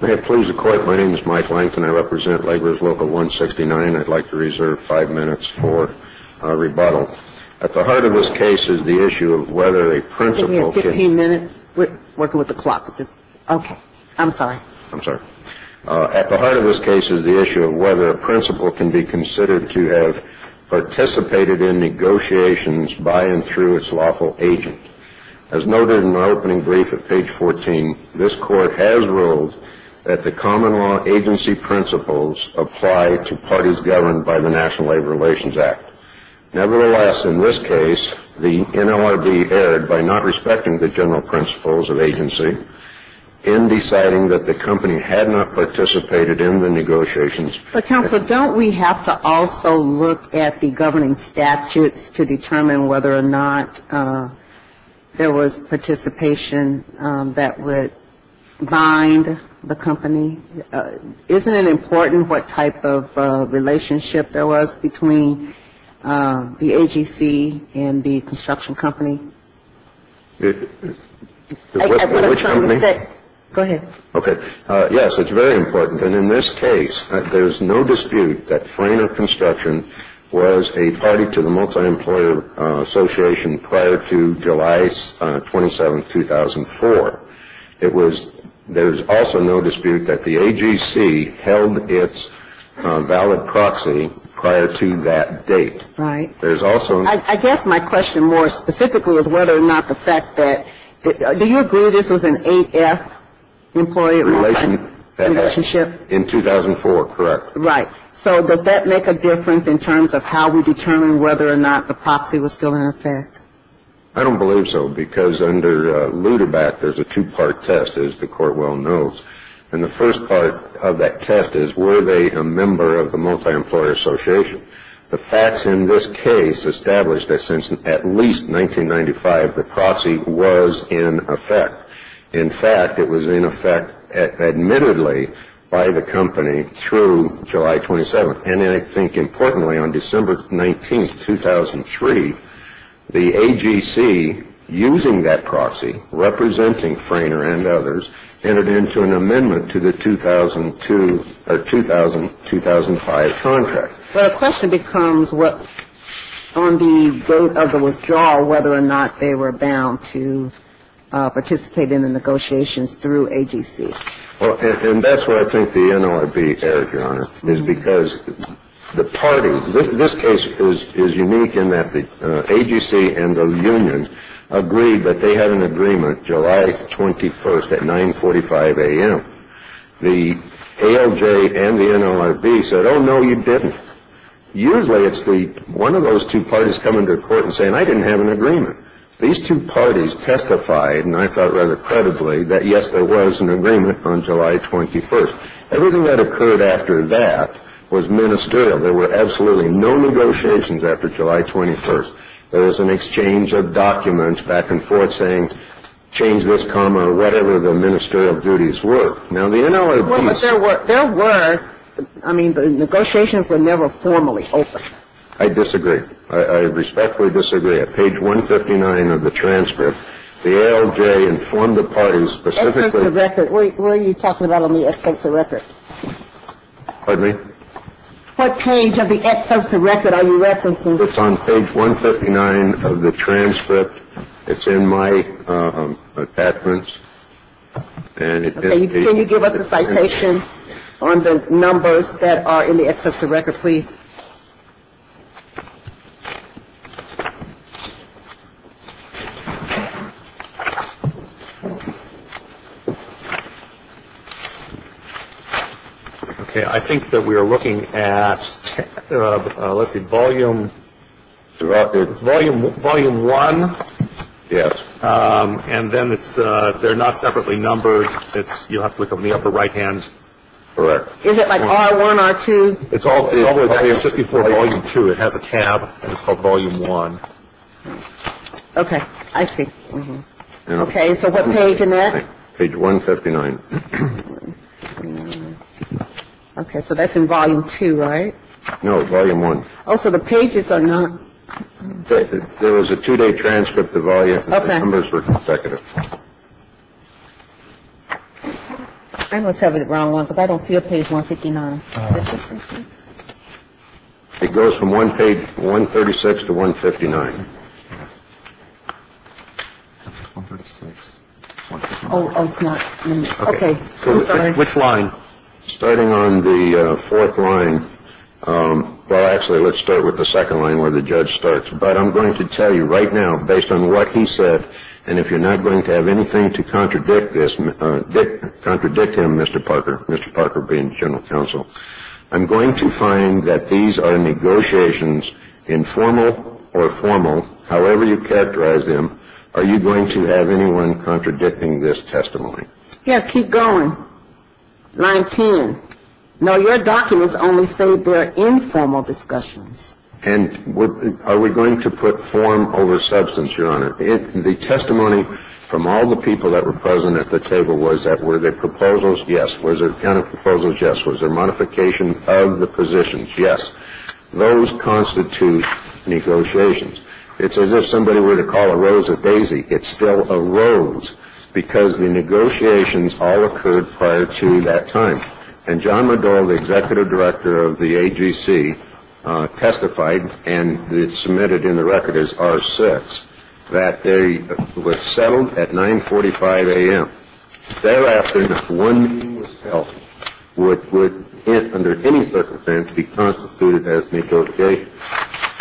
May it please the Court, my name is Mike Langton. I represent Laborers Local 169. I'd like to reserve five minutes for rebuttal. At the heart of this case is the issue of whether a principal can be considered to have participated in negotiations by and through its lawful agent. As noted in my opening brief at page 14, this Court has ruled that the common law agency principles apply to parties governed by the National Labor Relations Act. Nevertheless, in this case, the NLRB erred by not respecting the general principles of agency in deciding that the company had not participated in the negotiations. But Counselor, don't we have to also look at the governing statutes to determine whether or not there was participation that would bind the company? Isn't it important what type of relationship there was between the AGC and the construction company? Which company? Go ahead. Okay. Yes, it's very important. And in this case, there's no dispute that Freyner Construction was a party to the Multi-Employer Association prior to July 27, 2004. There's also no dispute that the AGC held its valid proxy prior to that date. Right. I guess my question more specifically is whether or not the fact that – do you agree this was an 8-F employee relationship? In 2004, correct. Right. So does that make a difference in terms of how we determine whether or not the proxy was still in effect? I don't believe so, because under Luderbach, there's a two-part test, as the Court well knows. And the first part of that test is, were they a member of the Multi-Employer Association? The facts in this case establish that since at least 1995, the proxy was in effect. In fact, it was in effect admittedly by the company through July 27. And I think importantly, on December 19, 2003, the AGC, using that proxy, representing Freyner and others, entered into an amendment to the 2002 – or 2000-2005 contract. Well, the question becomes what – on the vote of the withdrawal, whether or not they were bound to participate in the negotiations through AGC. Well, and that's where I think the NLRB erred, Your Honor, is because the parties – this case is unique in that the AGC and the unions agreed that they had an agreement July 21 at 9.45 a.m. The ALJ and the NLRB said, oh, no, you didn't. Usually it's the – one of those two parties come into court and say, and I didn't have an agreement. These two parties testified, and I thought rather credibly, that, yes, there was an agreement on July 21. Everything that occurred after that was ministerial. There were absolutely no negotiations after July 21. There was an exchange of documents back and forth saying, change this comma, whatever the ministerial duties were. Now, the NLRB – Well, but there were – there were – I mean, the negotiations were never formally open. I disagree. I respectfully disagree. At page 159 of the transcript, the ALJ informed the parties specifically – Excerpts of record. What are you talking about on the excerpts of record? Pardon me? What page of the excerpts of record are you referencing? It's on page 159 of the transcript. It's in my reference. Can you give us a citation on the numbers that are in the excerpts of record, please? Okay. I think that we are looking at, let's see, volume – Record. Volume 1. Yes. And then it's – they're not separately numbered. It's – you'll have to look on the upper right-hand. Correct. Is it like R1, R2? It's all – it's just before volume 2. It has a tab, and it's called volume 1. Okay. I see. Okay. So what page in that? Page 159. Okay. So that's in volume 2, right? No, volume 1. Oh, so the pages are not – There was a two-day transcript of volume – Okay. The numbers were consecutive. I must have the wrong one because I don't see a page 159. Is that the same thing? It goes from one page 136 to 159. 136, 159. Oh, it's not in there. Okay. I'm sorry. Which line? Starting on the fourth line – well, actually, let's start with the second line where the judge starts. But I'm going to tell you right now, based on what he said, and if you're not going to have anything to contradict him, Mr. Parker, Mr. Parker being general counsel, I'm going to find that these are negotiations, informal or formal, however you characterize them. Are you going to have anyone contradicting this testimony? Yeah, keep going. Line 10. No, your documents only say they're informal discussions. And are we going to put form over substance, Your Honor? The testimony from all the people that were present at the table was that were there proposals? Yes. Was there a ton of proposals? Yes. Was there modification of the positions? Yes. Those constitute negotiations. It's as if somebody were to call a rose a daisy. It's still a rose because the negotiations all occurred prior to that time. And John McDowell, the executive director of the AGC, testified, and it's submitted in the record as R6, that they were settled at 9.45 a.m. Thereafter, one meeting was held, which would, under any circumstance, be constituted as negotiations.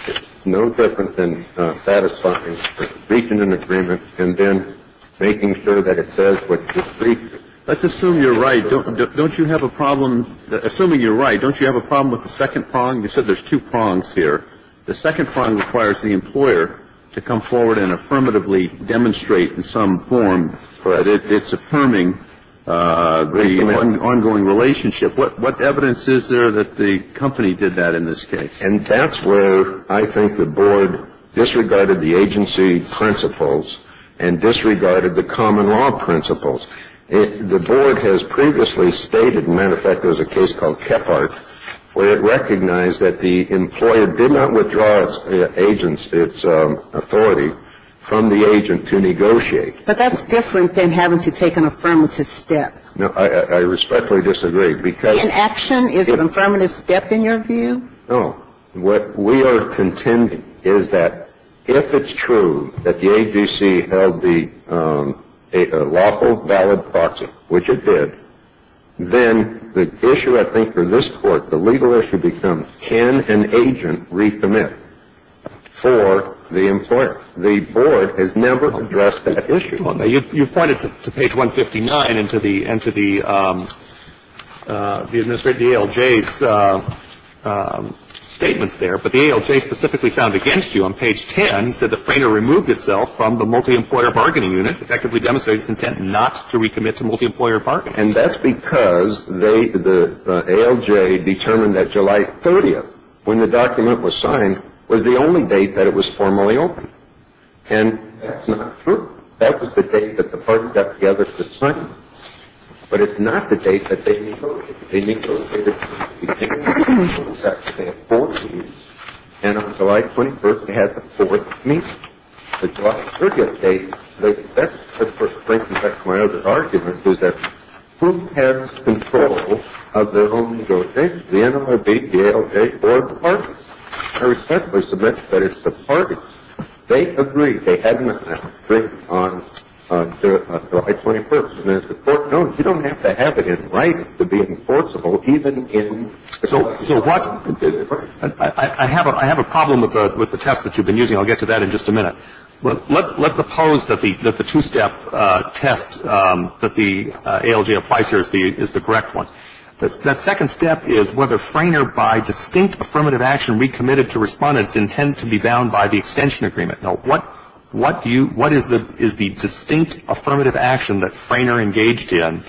It's no different than satisfying a speech in an agreement and then making sure that it says what the speech says. Let's assume you're right. Don't you have a problem, assuming you're right, don't you have a problem with the second prong? You said there's two prongs here. The second prong requires the employer to come forward and affirmatively demonstrate in some form that it's affirming the ongoing relationship. What evidence is there that the company did that in this case? And that's where I think the board disregarded the agency principles and disregarded the common law principles. The board has previously stated, as a matter of fact, there was a case called Kephart, where it recognized that the employer did not withdraw its authority from the agent to negotiate. But that's different than having to take an affirmative step. No, I respectfully disagree. Inaction is an affirmative step, in your view? No. What we are contending is that if it's true that the AGC held the lawful, valid proxy, which it did, then the issue, I think, for this Court, the legal issue becomes can an agent recommit for the employer? The board has never addressed that issue. You've pointed to page 159 and to the ALJ's statements there. But the ALJ specifically found against you on page 10 said that Frayner removed itself from the multi-employer bargaining unit, effectively demonstrated its intent not to recommit to multi-employer bargaining. And that's because the ALJ determined that July 30th, when the document was signed, was the only date that it was formally opened. And that's not true. That was the date that the parties got together to sign it. But it's not the date that they negotiated. They negotiated between the two contracts. They had four meetings. And on July 21st, they had the fourth meeting. The July 30th date, that's the first link. In fact, my other argument is that who has control of their own negotiations, the NLRB, the ALJ, or the parties? I respectfully submit that it's the parties. They agreed. They had an agreement on July 21st. And as the Court knows, you don't have to have it in writing to be enforceable, even in the case. So what — I have a problem with the test that you've been using. I'll get to that in just a minute. Let's suppose that the two-step test that the ALJ applies here is the correct one. That second step is whether Frayner, by distinct affirmative action recommitted to respondents, intended to be bound by the extension agreement. Now, what do you — what is the distinct affirmative action that Frayner engaged in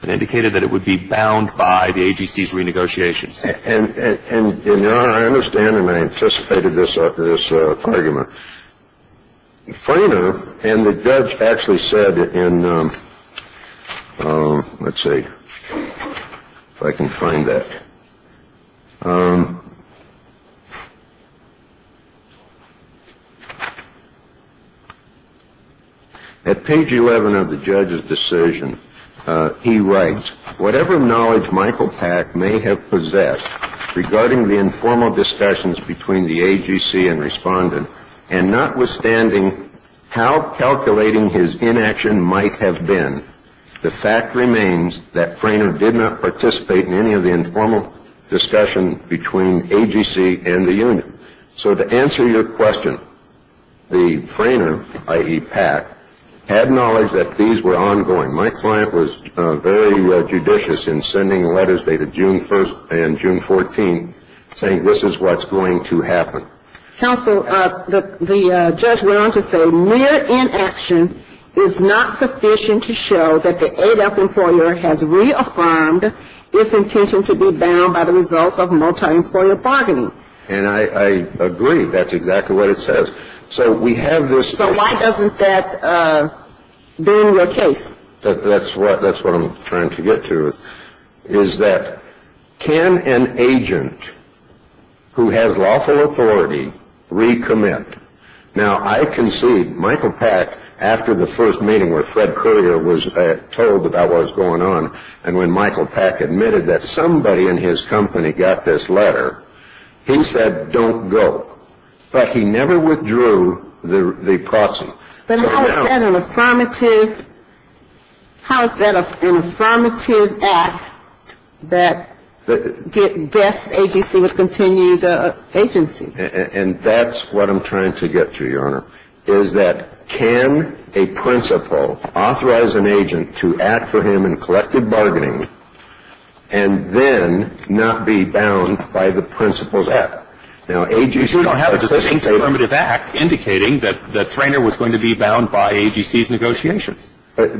that indicated that it would be bound by the AGC's renegotiations? And, Your Honor, I understand, and I anticipated this after this argument. Frayner and the judge actually said in — let's see if I can find that. At page 11 of the judge's decision, he writes, Whatever knowledge Michael Pack may have possessed regarding the informal discussions between the AGC and respondent, and notwithstanding how calculating his inaction might have been, the fact remains that Frayner did not participate in any of the informal discussion between AGC and the unit. So to answer your question, the Frayner, i.e. Pack, had knowledge that these were ongoing. My client was very judicious in sending letters dated June 1st and June 14, saying this is what's going to happen. Counsel, the judge went on to say, Mere inaction is not sufficient to show that the ADAP employer has reaffirmed its intention to be bound by the results of multi-employer bargaining. And I agree. That's exactly what it says. So we have this — So why doesn't that be in your case? That's what I'm trying to get to, is that can an agent who has lawful authority recommit? Now, I concede Michael Pack, after the first meeting where Fred Currier was told about what was going on, and when Michael Pack admitted that somebody in his company got this letter, he said don't go. But he never withdrew the proxy. But how is that an affirmative — how is that an affirmative act that gets AGC to continue the agency? And that's what I'm trying to get to, Your Honor, is that can a principal authorize an agent to act for him in collective bargaining and then not be bound by the principal's act? You don't have an affirmative act indicating that the trainer was going to be bound by AGC's negotiations. You're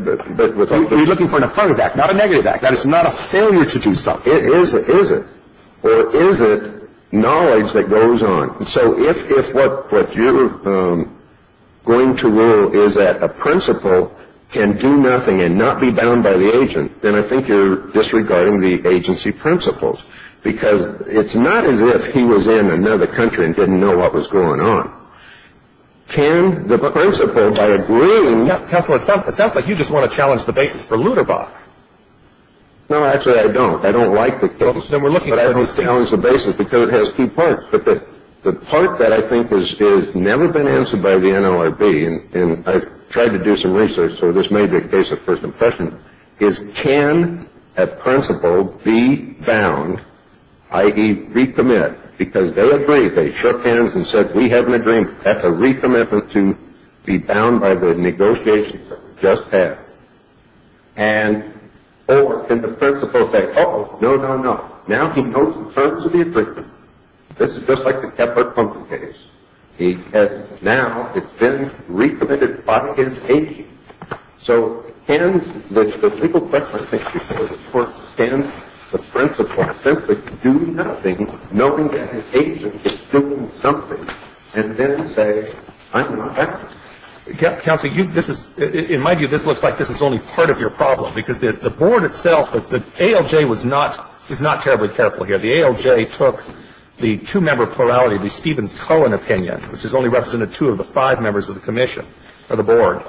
looking for an affirmative act, not a negative act. That is not a failure to do something. Is it? Or is it knowledge that goes on? So if what you're going to rule is that a principal can do nothing and not be bound by the agent, then I think you're disregarding the agency principles, because it's not as if he was in another country and didn't know what was going on. Can the principal, by agreeing — Counselor, it sounds like you just want to challenge the basis for Lutterbach. No, actually I don't. I don't like the case. Then we're looking at — But I don't challenge the basis because it has two parts. But the part that I think has never been answered by the NLRB, and I've tried to do some research, so this may be a case of first impression, is can a principal be bound, i.e., recommit, because they agree. They shook hands and said, we have an agreement. That's a recommitment to be bound by the negotiations that we just had. Or can the principal say, uh-oh, no, no, no. Now he knows the terms of the agreement. This is just like the Kepler-Pumkin case. Now it's been recommitted by his agent. So in the legal question, I think, before the court stands the principle, simply do nothing, knowing that his agent is doing something, and then say, I'm not acting. Counselor, in my view, this looks like this is only part of your problem, because the board itself, the ALJ is not terribly careful here. The ALJ took the two-member plurality of the Stevens-Cohen opinion, which has only represented two of the five members of the commission or the board.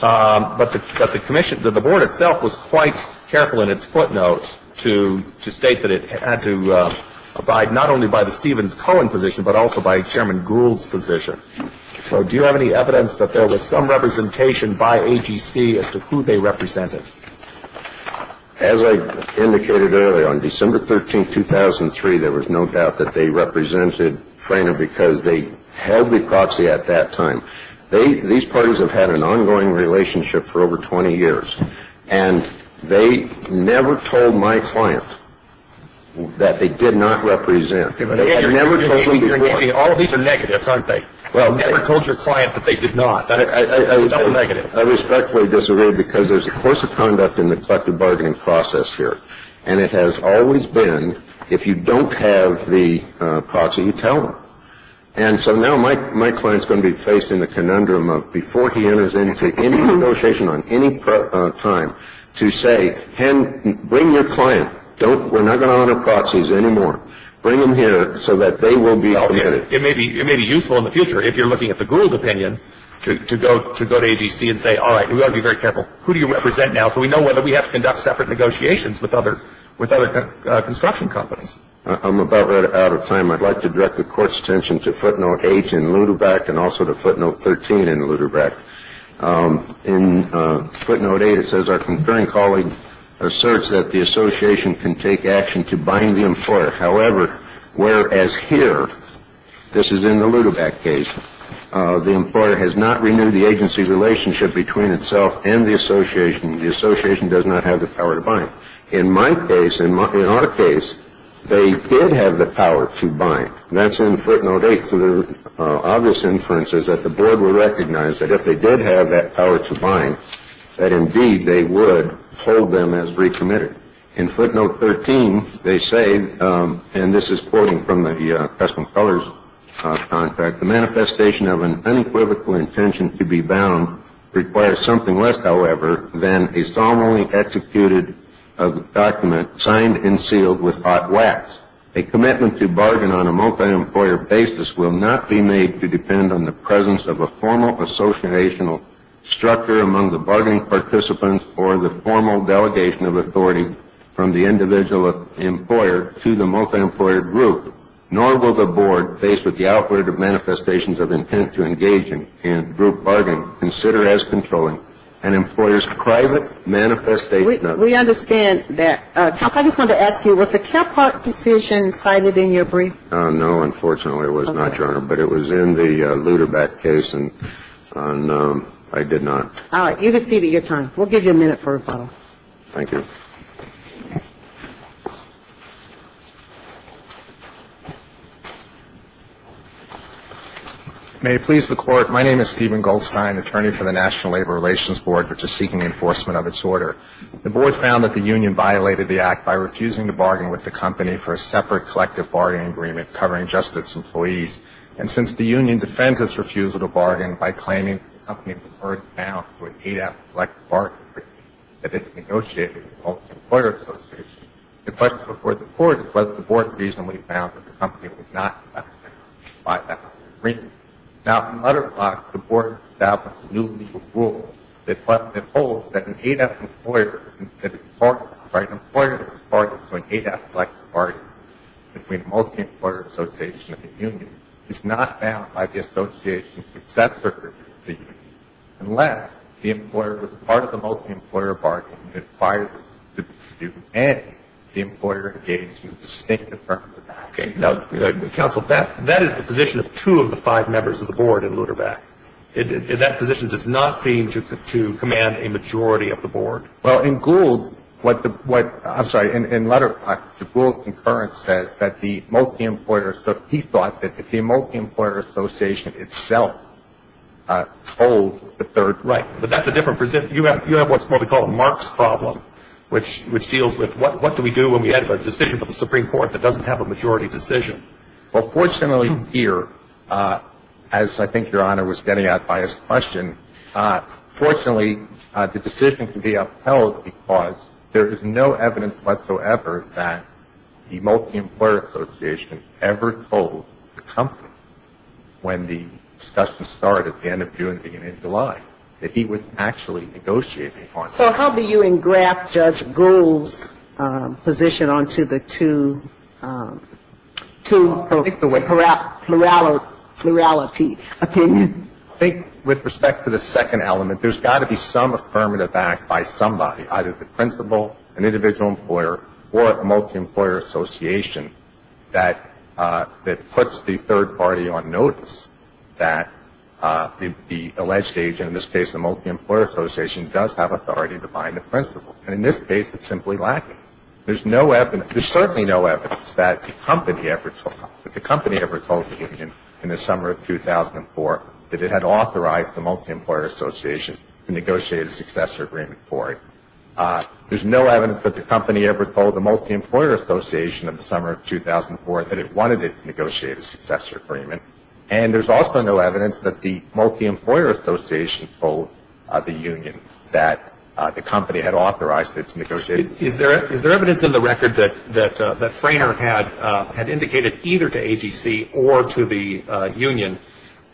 But the board itself was quite careful in its footnotes to state that it had to abide not only by the Stevens-Cohen position, but also by Chairman Gould's position. So do you have any evidence that there was some representation by AGC as to who they represented? As I indicated earlier, on December 13th, 2003, there was no doubt that they represented Frehner because they held the proxy at that time. These parties have had an ongoing relationship for over 20 years, and they never told my client that they did not represent. They never told me before. All of these are negatives, aren't they? Well, never told your client that they did not. That's a negative. I respectfully disagree because there's a course of conduct in the collective bargaining process here, and it has always been if you don't have the proxy, you tell them. And so now my client's going to be faced in the conundrum of before he enters into any negotiation on any time to say, Ken, bring your client. We're not going to honor proxies anymore. Bring them here so that they will be permitted. It may be useful in the future, if you're looking at the Gould opinion, to go to AGC and say, all right, we've got to be very careful. Who do you represent now so we know whether we have to conduct separate negotiations with other construction companies? I'm about out of time. I'd like to direct the Court's attention to footnote 8 in Ludebrecht and also to footnote 13 in Ludebrecht. In footnote 8, it says, Our concurring colleague asserts that the association can take action to bind the employer. However, whereas here, this is in the Ludebrecht case, the employer has not renewed the agency's relationship between itself and the association. The association does not have the power to bind. In my case, in our case, they did have the power to bind. That's in footnote 8. The obvious inference is that the board will recognize that if they did have that power to bind, that indeed they would hold them as recommitted. In footnote 13, they say, and this is quoting from the Customs and Colors contract, The manifestation of an unequivocal intention to be bound requires something less, however, than a solemnly executed document signed and sealed with hot wax. A commitment to bargain on a multi-employer basis will not be made to depend on the presence of a formal associational structure among the bargain participants or the formal delegation of authority from the individual employer to the multi-employer group, nor will the board, faced with the outward manifestations of intent to engage in group bargain, consider as controlling an employer's private manifestation of intent. We understand that. Counsel, I just wanted to ask you, was the Kephart decision cited in your brief? No, unfortunately it was not, Your Honor. But it was in the Luderbeck case, and I did not. All right. You have exceeded your time. We'll give you a minute for rebuttal. Thank you. May it please the Court. My name is Stephen Goldstein, attorney for the National Labor Relations Board, which is seeking enforcement of its order. The board found that the union violated the act by refusing to bargain with the company for a separate collective bargaining agreement covering just its employees. And since the union defends its refusal to bargain by claiming that the company was first bound to an ADAPT collective bargaining agreement that it negotiated with the Pulse Employer Association, the question before the Court is whether the board reasonably found that the company was not affected by that agreement. Now, from Luderbeck, the board established a new legal rule that holds that an ADAPT employer that is part of an ADAPT collective bargaining agreement between the Pulse Employer Association and the union is not bound by the association's successor agreement to the union unless the employer was part of the Pulse Employer bargaining agreement prior to the dispute and the employer engaged in a distinct affirmative action. Okay. Now, counsel, that is the position of two of the five members of the board in Luderbeck. That position does not seem to command a majority of the board. Well, in Gould, what the – I'm sorry. In Luderbeck, the Gould concurrence says that the multi-employer – he thought that the multi-employer association itself holds the third right. But that's a different – you have what we call a Marx problem, which deals with what do we do when we have a decision from the Supreme Court that doesn't have a majority decision? Well, fortunately here, as I think Your Honor was getting at by his question, fortunately the decision can be upheld because there is no evidence whatsoever that the multi-employer association ever told the company when the discussion started at the end of June, beginning of July, that he was actually negotiating on it. So how do you engraft Judge Gould's position onto the two plurality opinions? I think with respect to the second element, there's got to be some affirmative act by somebody, either the principal, an individual employer, or a multi-employer association that puts the third party on notice that the alleged agent, in this case a multi-employer association, does have authority to bind the principal. And in this case, it's simply lacking. There's no evidence – there's certainly no evidence that the company ever told – in the summer of 2004 that it had authorized the multi-employer association to negotiate a successor agreement for it. There's no evidence that the company ever told the multi-employer association in the summer of 2004 that it wanted it to negotiate a successor agreement. And there's also no evidence that the multi-employer association told the union that the company had authorized it to negotiate. Is there evidence in the record that Frayner had indicated either to AGC or to the union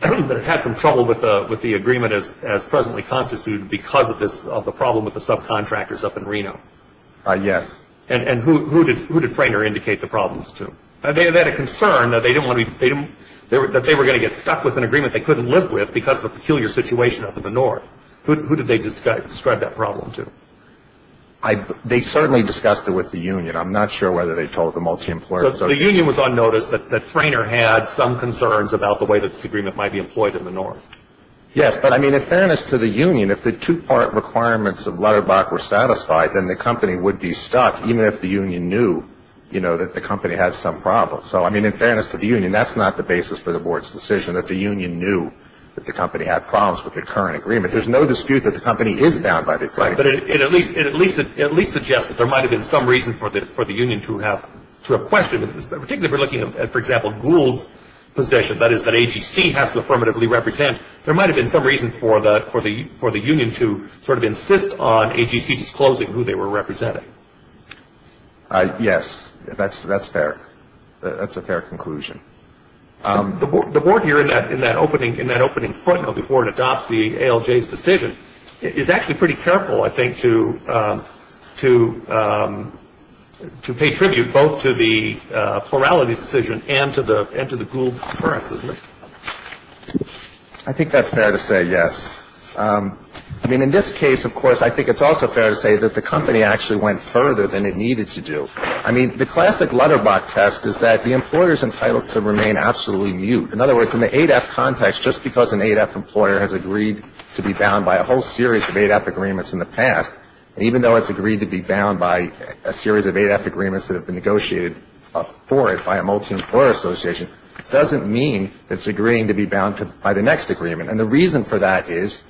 that it had some trouble with the agreement as presently constituted because of the problem with the subcontractors up in Reno? Yes. And who did Frayner indicate the problems to? They had a concern that they were going to get stuck with an agreement they couldn't live with because of a peculiar situation up in the north. Who did they describe that problem to? They certainly discussed it with the union. I'm not sure whether they told the multi-employer association. So the union was on notice that Frayner had some concerns about the way that this agreement might be employed in the north. Yes, but in fairness to the union, if the two-part requirements of Lutterbach were satisfied, then the company would be stuck even if the union knew that the company had some problems. So in fairness to the union, that's not the basis for the board's decision, that the union knew that the company had problems with the current agreement. There's no dispute that the company is bound by the agreement. Right, but it at least suggests that there might have been some reason for the union to have questions, particularly if we're looking at, for example, Gould's position, that is that AGC has to affirmatively represent. There might have been some reason for the union to sort of insist on AGC disclosing who they were representing. Yes, that's fair. That's a fair conclusion. The board here in that opening footnote, before it adopts the ALJ's decision, is actually pretty careful, I think, to pay tribute both to the plurality decision and to the Gould concurrence, isn't it? I think that's fair to say, yes. I mean, in this case, of course, I think it's also fair to say that the company actually went further than it needed to do. I mean, the classic letterbox test is that the employer is entitled to remain absolutely mute. In other words, in the ADAPT context, just because an ADAPT employer has agreed to be bound by a whole series of ADAPT agreements in the past, even though it's agreed to be bound by a series of ADAPT agreements that have been negotiated for it by a multi-employer association, doesn't mean it's agreeing to be bound by the next agreement. And the reason for that is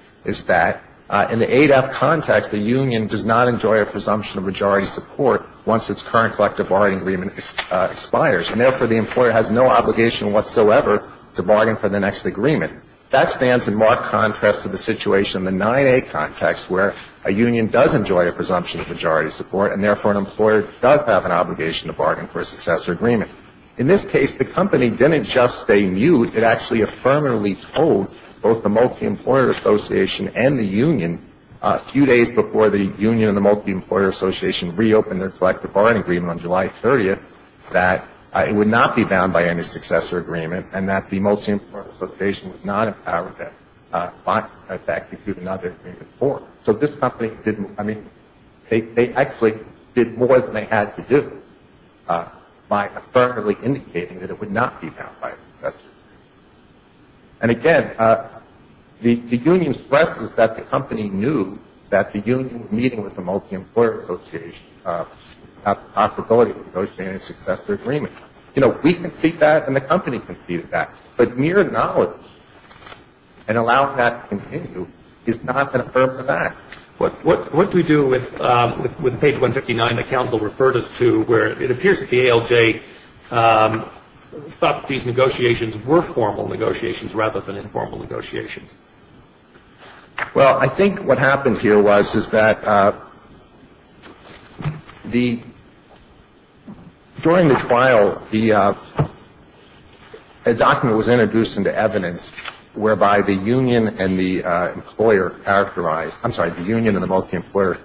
that in the ADAPT context, the union does not enjoy a presumption of majority support once its current collective bargaining agreement expires, and therefore the employer has no obligation whatsoever to bargain for the next agreement. That stands in marked contrast to the situation in the 9A context, where a union does enjoy a presumption of majority support, and therefore an employer does have an obligation to bargain for a successor agreement. In this case, the company didn't just stay mute. It actually affirmatively told both the multi-employer association and the union, a few days before the union and the multi-employer association reopened their collective bargaining agreement on July 30th, that it would not be bound by any successor agreement and that the multi-employer association was not empowered to execute another agreement for it. So this company didn't, I mean, they actually did more than they had to do by affirmatively indicating that it would not be bound by a successor agreement. And again, the union stresses that the company knew that the union meeting with the multi-employer association had the possibility of negotiating a successor agreement. You know, we conceded that and the company conceded that, but mere knowledge and allowing that to continue is not an affirmative act. What do we do with page 159 that counsel referred us to, where it appears that the ALJ thought that these negotiations were formal negotiations rather than informal negotiations? Well, I think what happened here was is that the, during the trial, the document was introduced into evidence whereby the union and the employer characterized, I'm sorry, the union and the multi-employer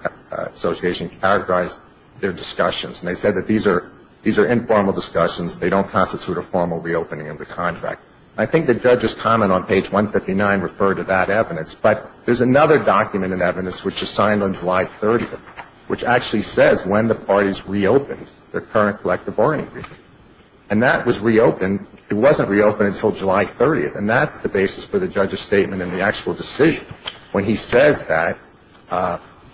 association characterized their discussions. And they said that these are informal discussions. They don't constitute a formal reopening of the contract. I think the judge's comment on page 159 referred to that evidence. But there's another document in evidence which is signed on July 30th, which actually says when the parties reopened their current collective bargaining agreement. And that was reopened. It wasn't reopened until July 30th. And that's the basis for the judge's statement in the actual decision, when he says that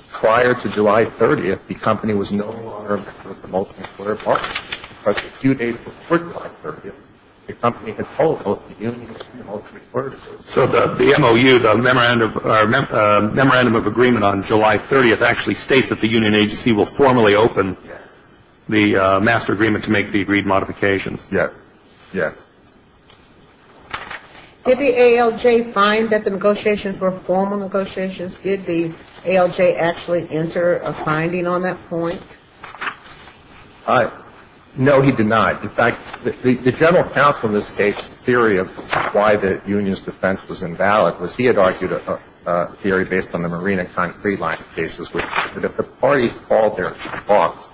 prior to July 30th, the company was no longer with the multi-employer partnership. But a few days before July 30th, the company had told both the union and the multi-employer association. So the MOU, the Memorandum of Agreement on July 30th, actually states that the union agency will formally open the master agreement to make the agreed modifications. Yes. Yes. Did the ALJ find that the negotiations were formal negotiations? Did the ALJ actually enter a finding on that point? No, he did not. In fact, the general counsel in this case's theory of why the union's defense was invalid, was he had argued a theory based on the Marina Concrete Line cases, which is that if the parties called their talks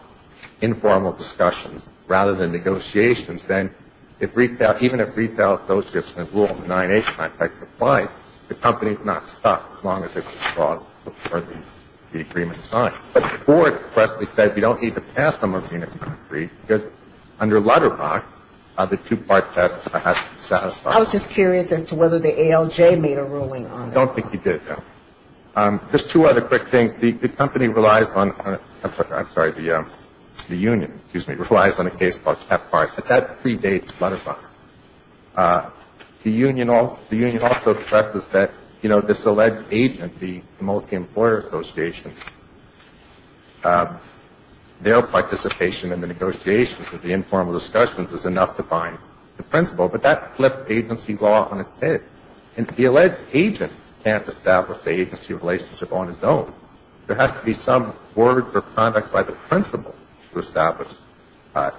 informal discussions rather than negotiations, then even if retail associates and the rule of the 9-H contract applied, the company's not stuck as long as it was brought before the agreement was signed. But Ford expressly said we don't need to pass the Marina Concrete because under Lutterbach, the two-part test has to be satisfied. I was just curious as to whether the ALJ made a ruling on that. I don't think he did, no. Just two other quick things. The company relies on, I'm sorry, the union, excuse me, relies on a case called Chapart, but that predates Lutterbach. The union also expresses that, you know, this alleged agent, the multi-employer association, their participation in the negotiations of the informal discussions is enough to bind the principal, but that flipped agency law on its head. And the alleged agent can't establish the agency relationship on its own. There has to be some word for conduct by the principal to establish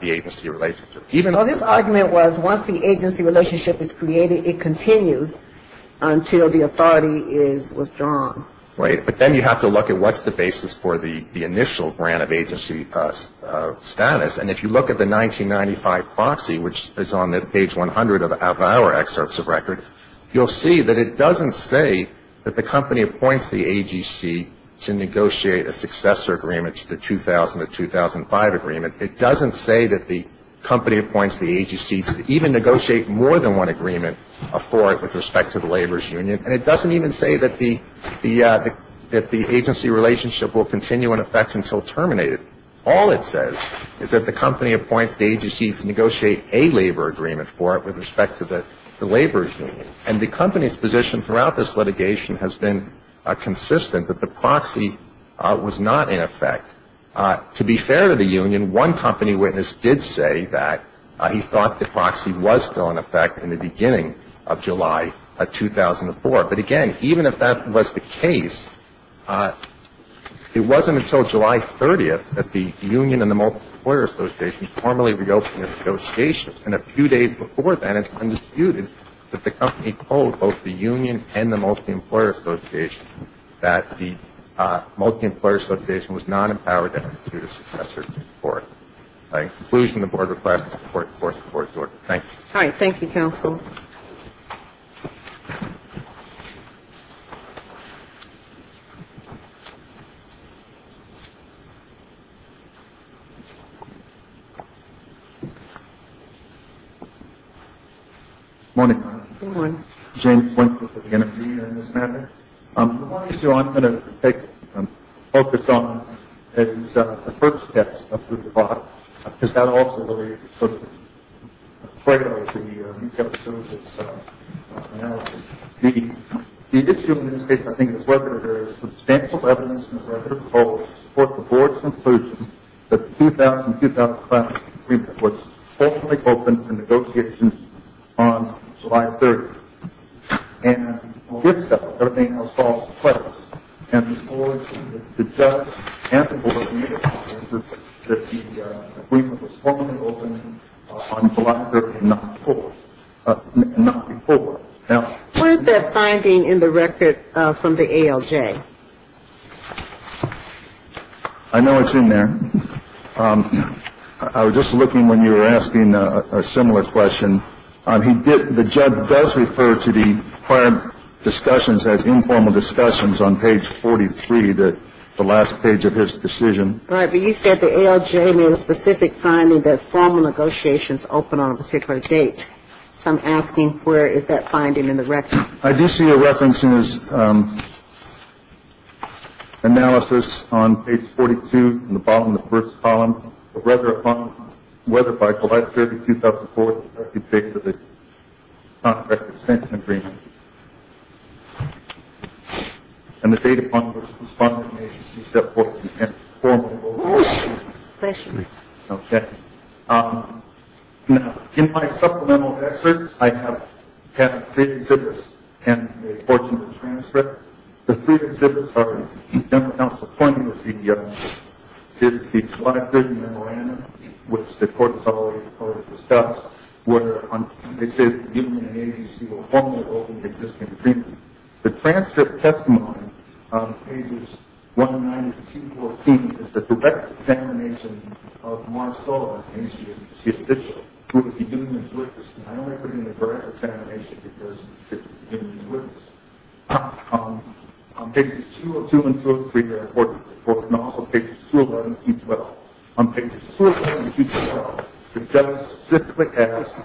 the agency relationship. Well, this argument was once the agency relationship is created, it continues until the authority is withdrawn. Right. But then you have to look at what's the basis for the initial grant of agency status. And if you look at the 1995 proxy, which is on page 100 of our excerpts of record, you'll see that it doesn't say that the company appoints the AGC to negotiate a successor agreement to the 2000-2005 agreement. It doesn't say that the company appoints the AGC to even negotiate more than one agreement for it with respect to the laborers' union. And it doesn't even say that the agency relationship will continue in effect until terminated. All it says is that the company appoints the AGC to negotiate a labor agreement for it with respect to the laborers' union. And the company's position throughout this litigation has been consistent, that the proxy was not in effect. To be fair to the union, one company witness did say that he thought the proxy was still in effect in the beginning of July of 2004. But, again, even if that was the case, it wasn't until July 30th that the union and the multi-employer association formally reopened negotiations. And a few days before that, it's been disputed that the company told both the union and the multi-employer association that the multi-employer association was not empowered to do the successor agreement for it. In conclusion, the Board requests support for this report. Thank you. All right. Thank you, counsel. Good morning. Good morning. James Winkler for the NFB on this matter. The one issue I'm going to focus on is the first steps up through the bottom, because that also really sort of triggers the recap of some of this analysis. The issue in this case, I think, is whether there is substantial evidence in the record of the proposal to support the Board's conclusion that the 2000-2005 agreement was formally opened in negotiations on July 30th. And if so, everything else falls to place. And the Board and the judge and the Board made it clear that the agreement was formally opened on July 30th and not before. What is that finding in the record from the ALJ? I know it's in there. I was just looking when you were asking a similar question. The judge does refer to the prior discussions as informal discussions on page 43, the last page of his decision. Right. But you said the ALJ made a specific finding that formal negotiations open on a particular date. So I'm asking where is that finding in the record? I do see a reference in his analysis on page 42 in the bottom of the first column. Rather, upon whether by July 30th, 2004, the Board could take to the contract extension agreement. And the date upon which the funding agency set forth the formal open date. Question. Okay. Now, in my supplemental excerpts, I have had three exhibits and a portion of the transcript. The three exhibits are the general counsel pointing to the July 30th memorandum, which the Court has already heard discussed, where they say the union and agency were formally opening the existing agreement. The transcript testimony on pages 190 to 214 is the direct examination of Marceau as an agency official, who would be giving his witness. And I don't want to put it in the direct examination because it would be giving his witness. Pages 202 and 203 are important. And also pages 211 and 212. On pages 211 and 212, the judge specifically asks,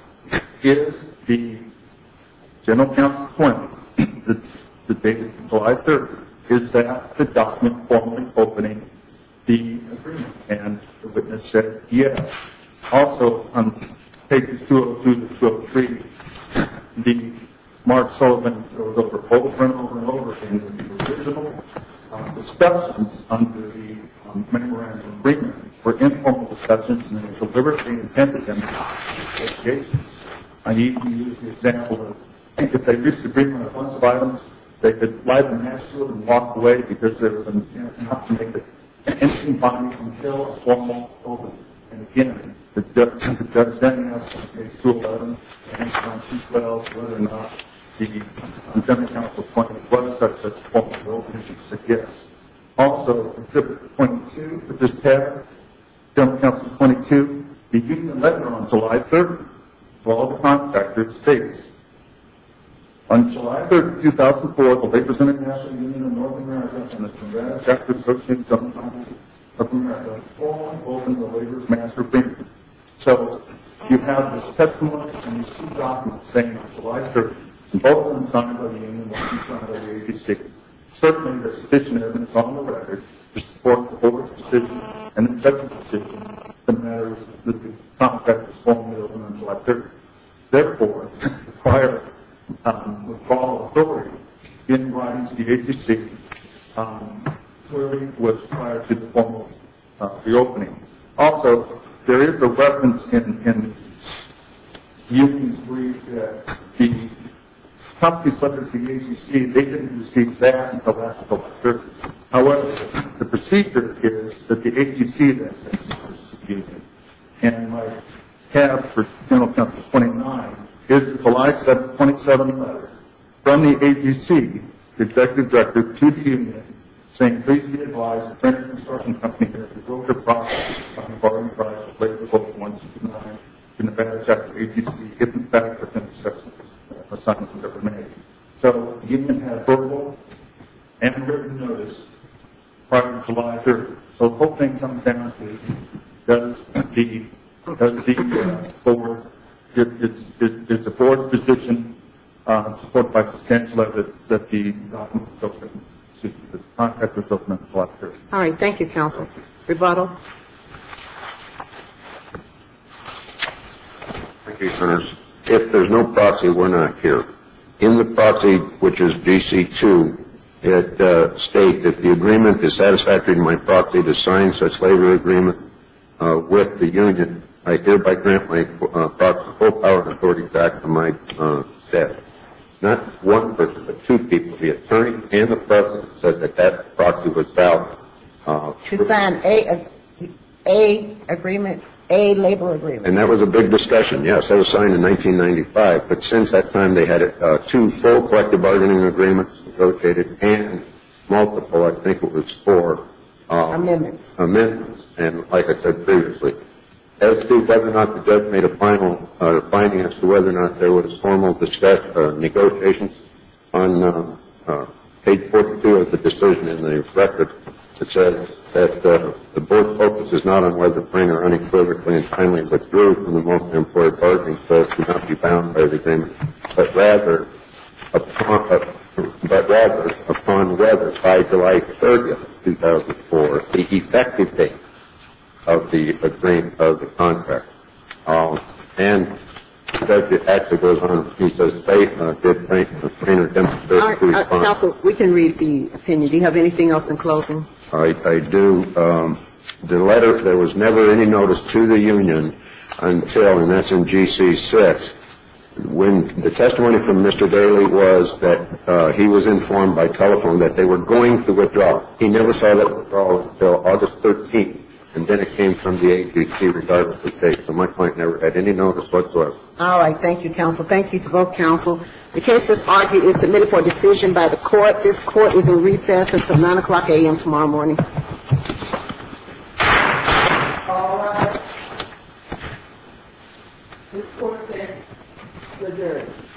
is the general counsel pointing to the date of July 30th? Is that the document formally opening the agreement? And the witness says yes. Also, on pages 202 and 203, the Mark Sullivan proposal, over and over again, discussions under the memorandum of agreement were informal discussions, and they were deliberately intended to be informal discussions. I need to use the example of, if they reached an agreement on the funds of items, they could fly to Nashville and walk away because there was an attempt not to make an instant bond until a formal opening. And, again, the judge then asks on pages 211 and 212 whether or not the general counsel pointed to what such a formal opening suggests. Also, exhibit 22, which is tabbed, general counsel 22, the union letter on July 30th, 12 o'clock, Dr. States. On July 30th, 2004, the Labor Center National Union of Northern America and the Congressional Executive Committee of Northern America all opened the Labor's master agreement. So, you have this testimony, and you see documents saying on July 30th, both when signed by the union and when signed by the AGC. Certainly, there's sufficient evidence on the record to support the board's decision and the judge's decision that matters that the contract was formally opened on July 30th. Therefore, the prior withdrawal of authority in writing to the AGC clearly was prior to the formal reopening. Also, there is a reference in the union's brief that the top two subjects of the AGC, they didn't receive that until after the letter. However, the procedure is that the AGC then sends a notice to the union, and you might have for general counsel 29, is the July 27th letter from the AGC, the executive director, to the union saying, and please be advised that the construction company has revoked their promise to sign the borrowing price of labor before the 1st of July in advance after the AGC gives it back for 10% of the assignments that were made. So, the union had verbal and written notice prior to July 30th. So, the whole thing comes down to, does the board, is the board's decision supported by substantial evidence that the contract was opened on July 30th? All right, thank you, counsel. Rebuttal. Thank you, Senators. If there's no proxy, we're not here. In the proxy, which is DC2, it states, if the agreement is satisfactory to my proxy to sign such labor agreement with the union, I hereby grant my proxy full power and authority back to my debt. Not one person, but two people, the attorney and the president, said that that proxy was valid. To sign a agreement, a labor agreement. And that was a big discussion. Yes, that was signed in 1995. But since that time, they had two full collective bargaining agreements negotiated and multiple, I think it was four. Amendments. Amendments. And like I said previously, as to whether or not the judge made a final finding as to whether or not there was formal discussion or negotiations, on page 42 of the decision in the record, it says that the board focuses not on whether Frank are unequivocally and kindly withdrew from the multi-employee bargaining so as to not be bound by the agreement, but rather upon whether by July 30th, 2004, the effective date of the agreement, of the contract. And it actually goes on. It says, date, date, date. Counsel, we can read the opinion. Do you have anything else in closing? I do. The letter, there was never any notice to the union until, and that's in GC 6, when the testimony from Mr. Daley was that he was informed by telephone that they were going to withdraw. He never said that withdrawal until August 13th, and then it came from the agency regardless of date. So my point, never at any notice whatsoever. All right. Thank you, counsel. Thank you to both counsel. The case that's argued is submitted for decision by the court. This court is in recess until 9 o'clock a.m. tomorrow morning. All rise. This court is adjourned.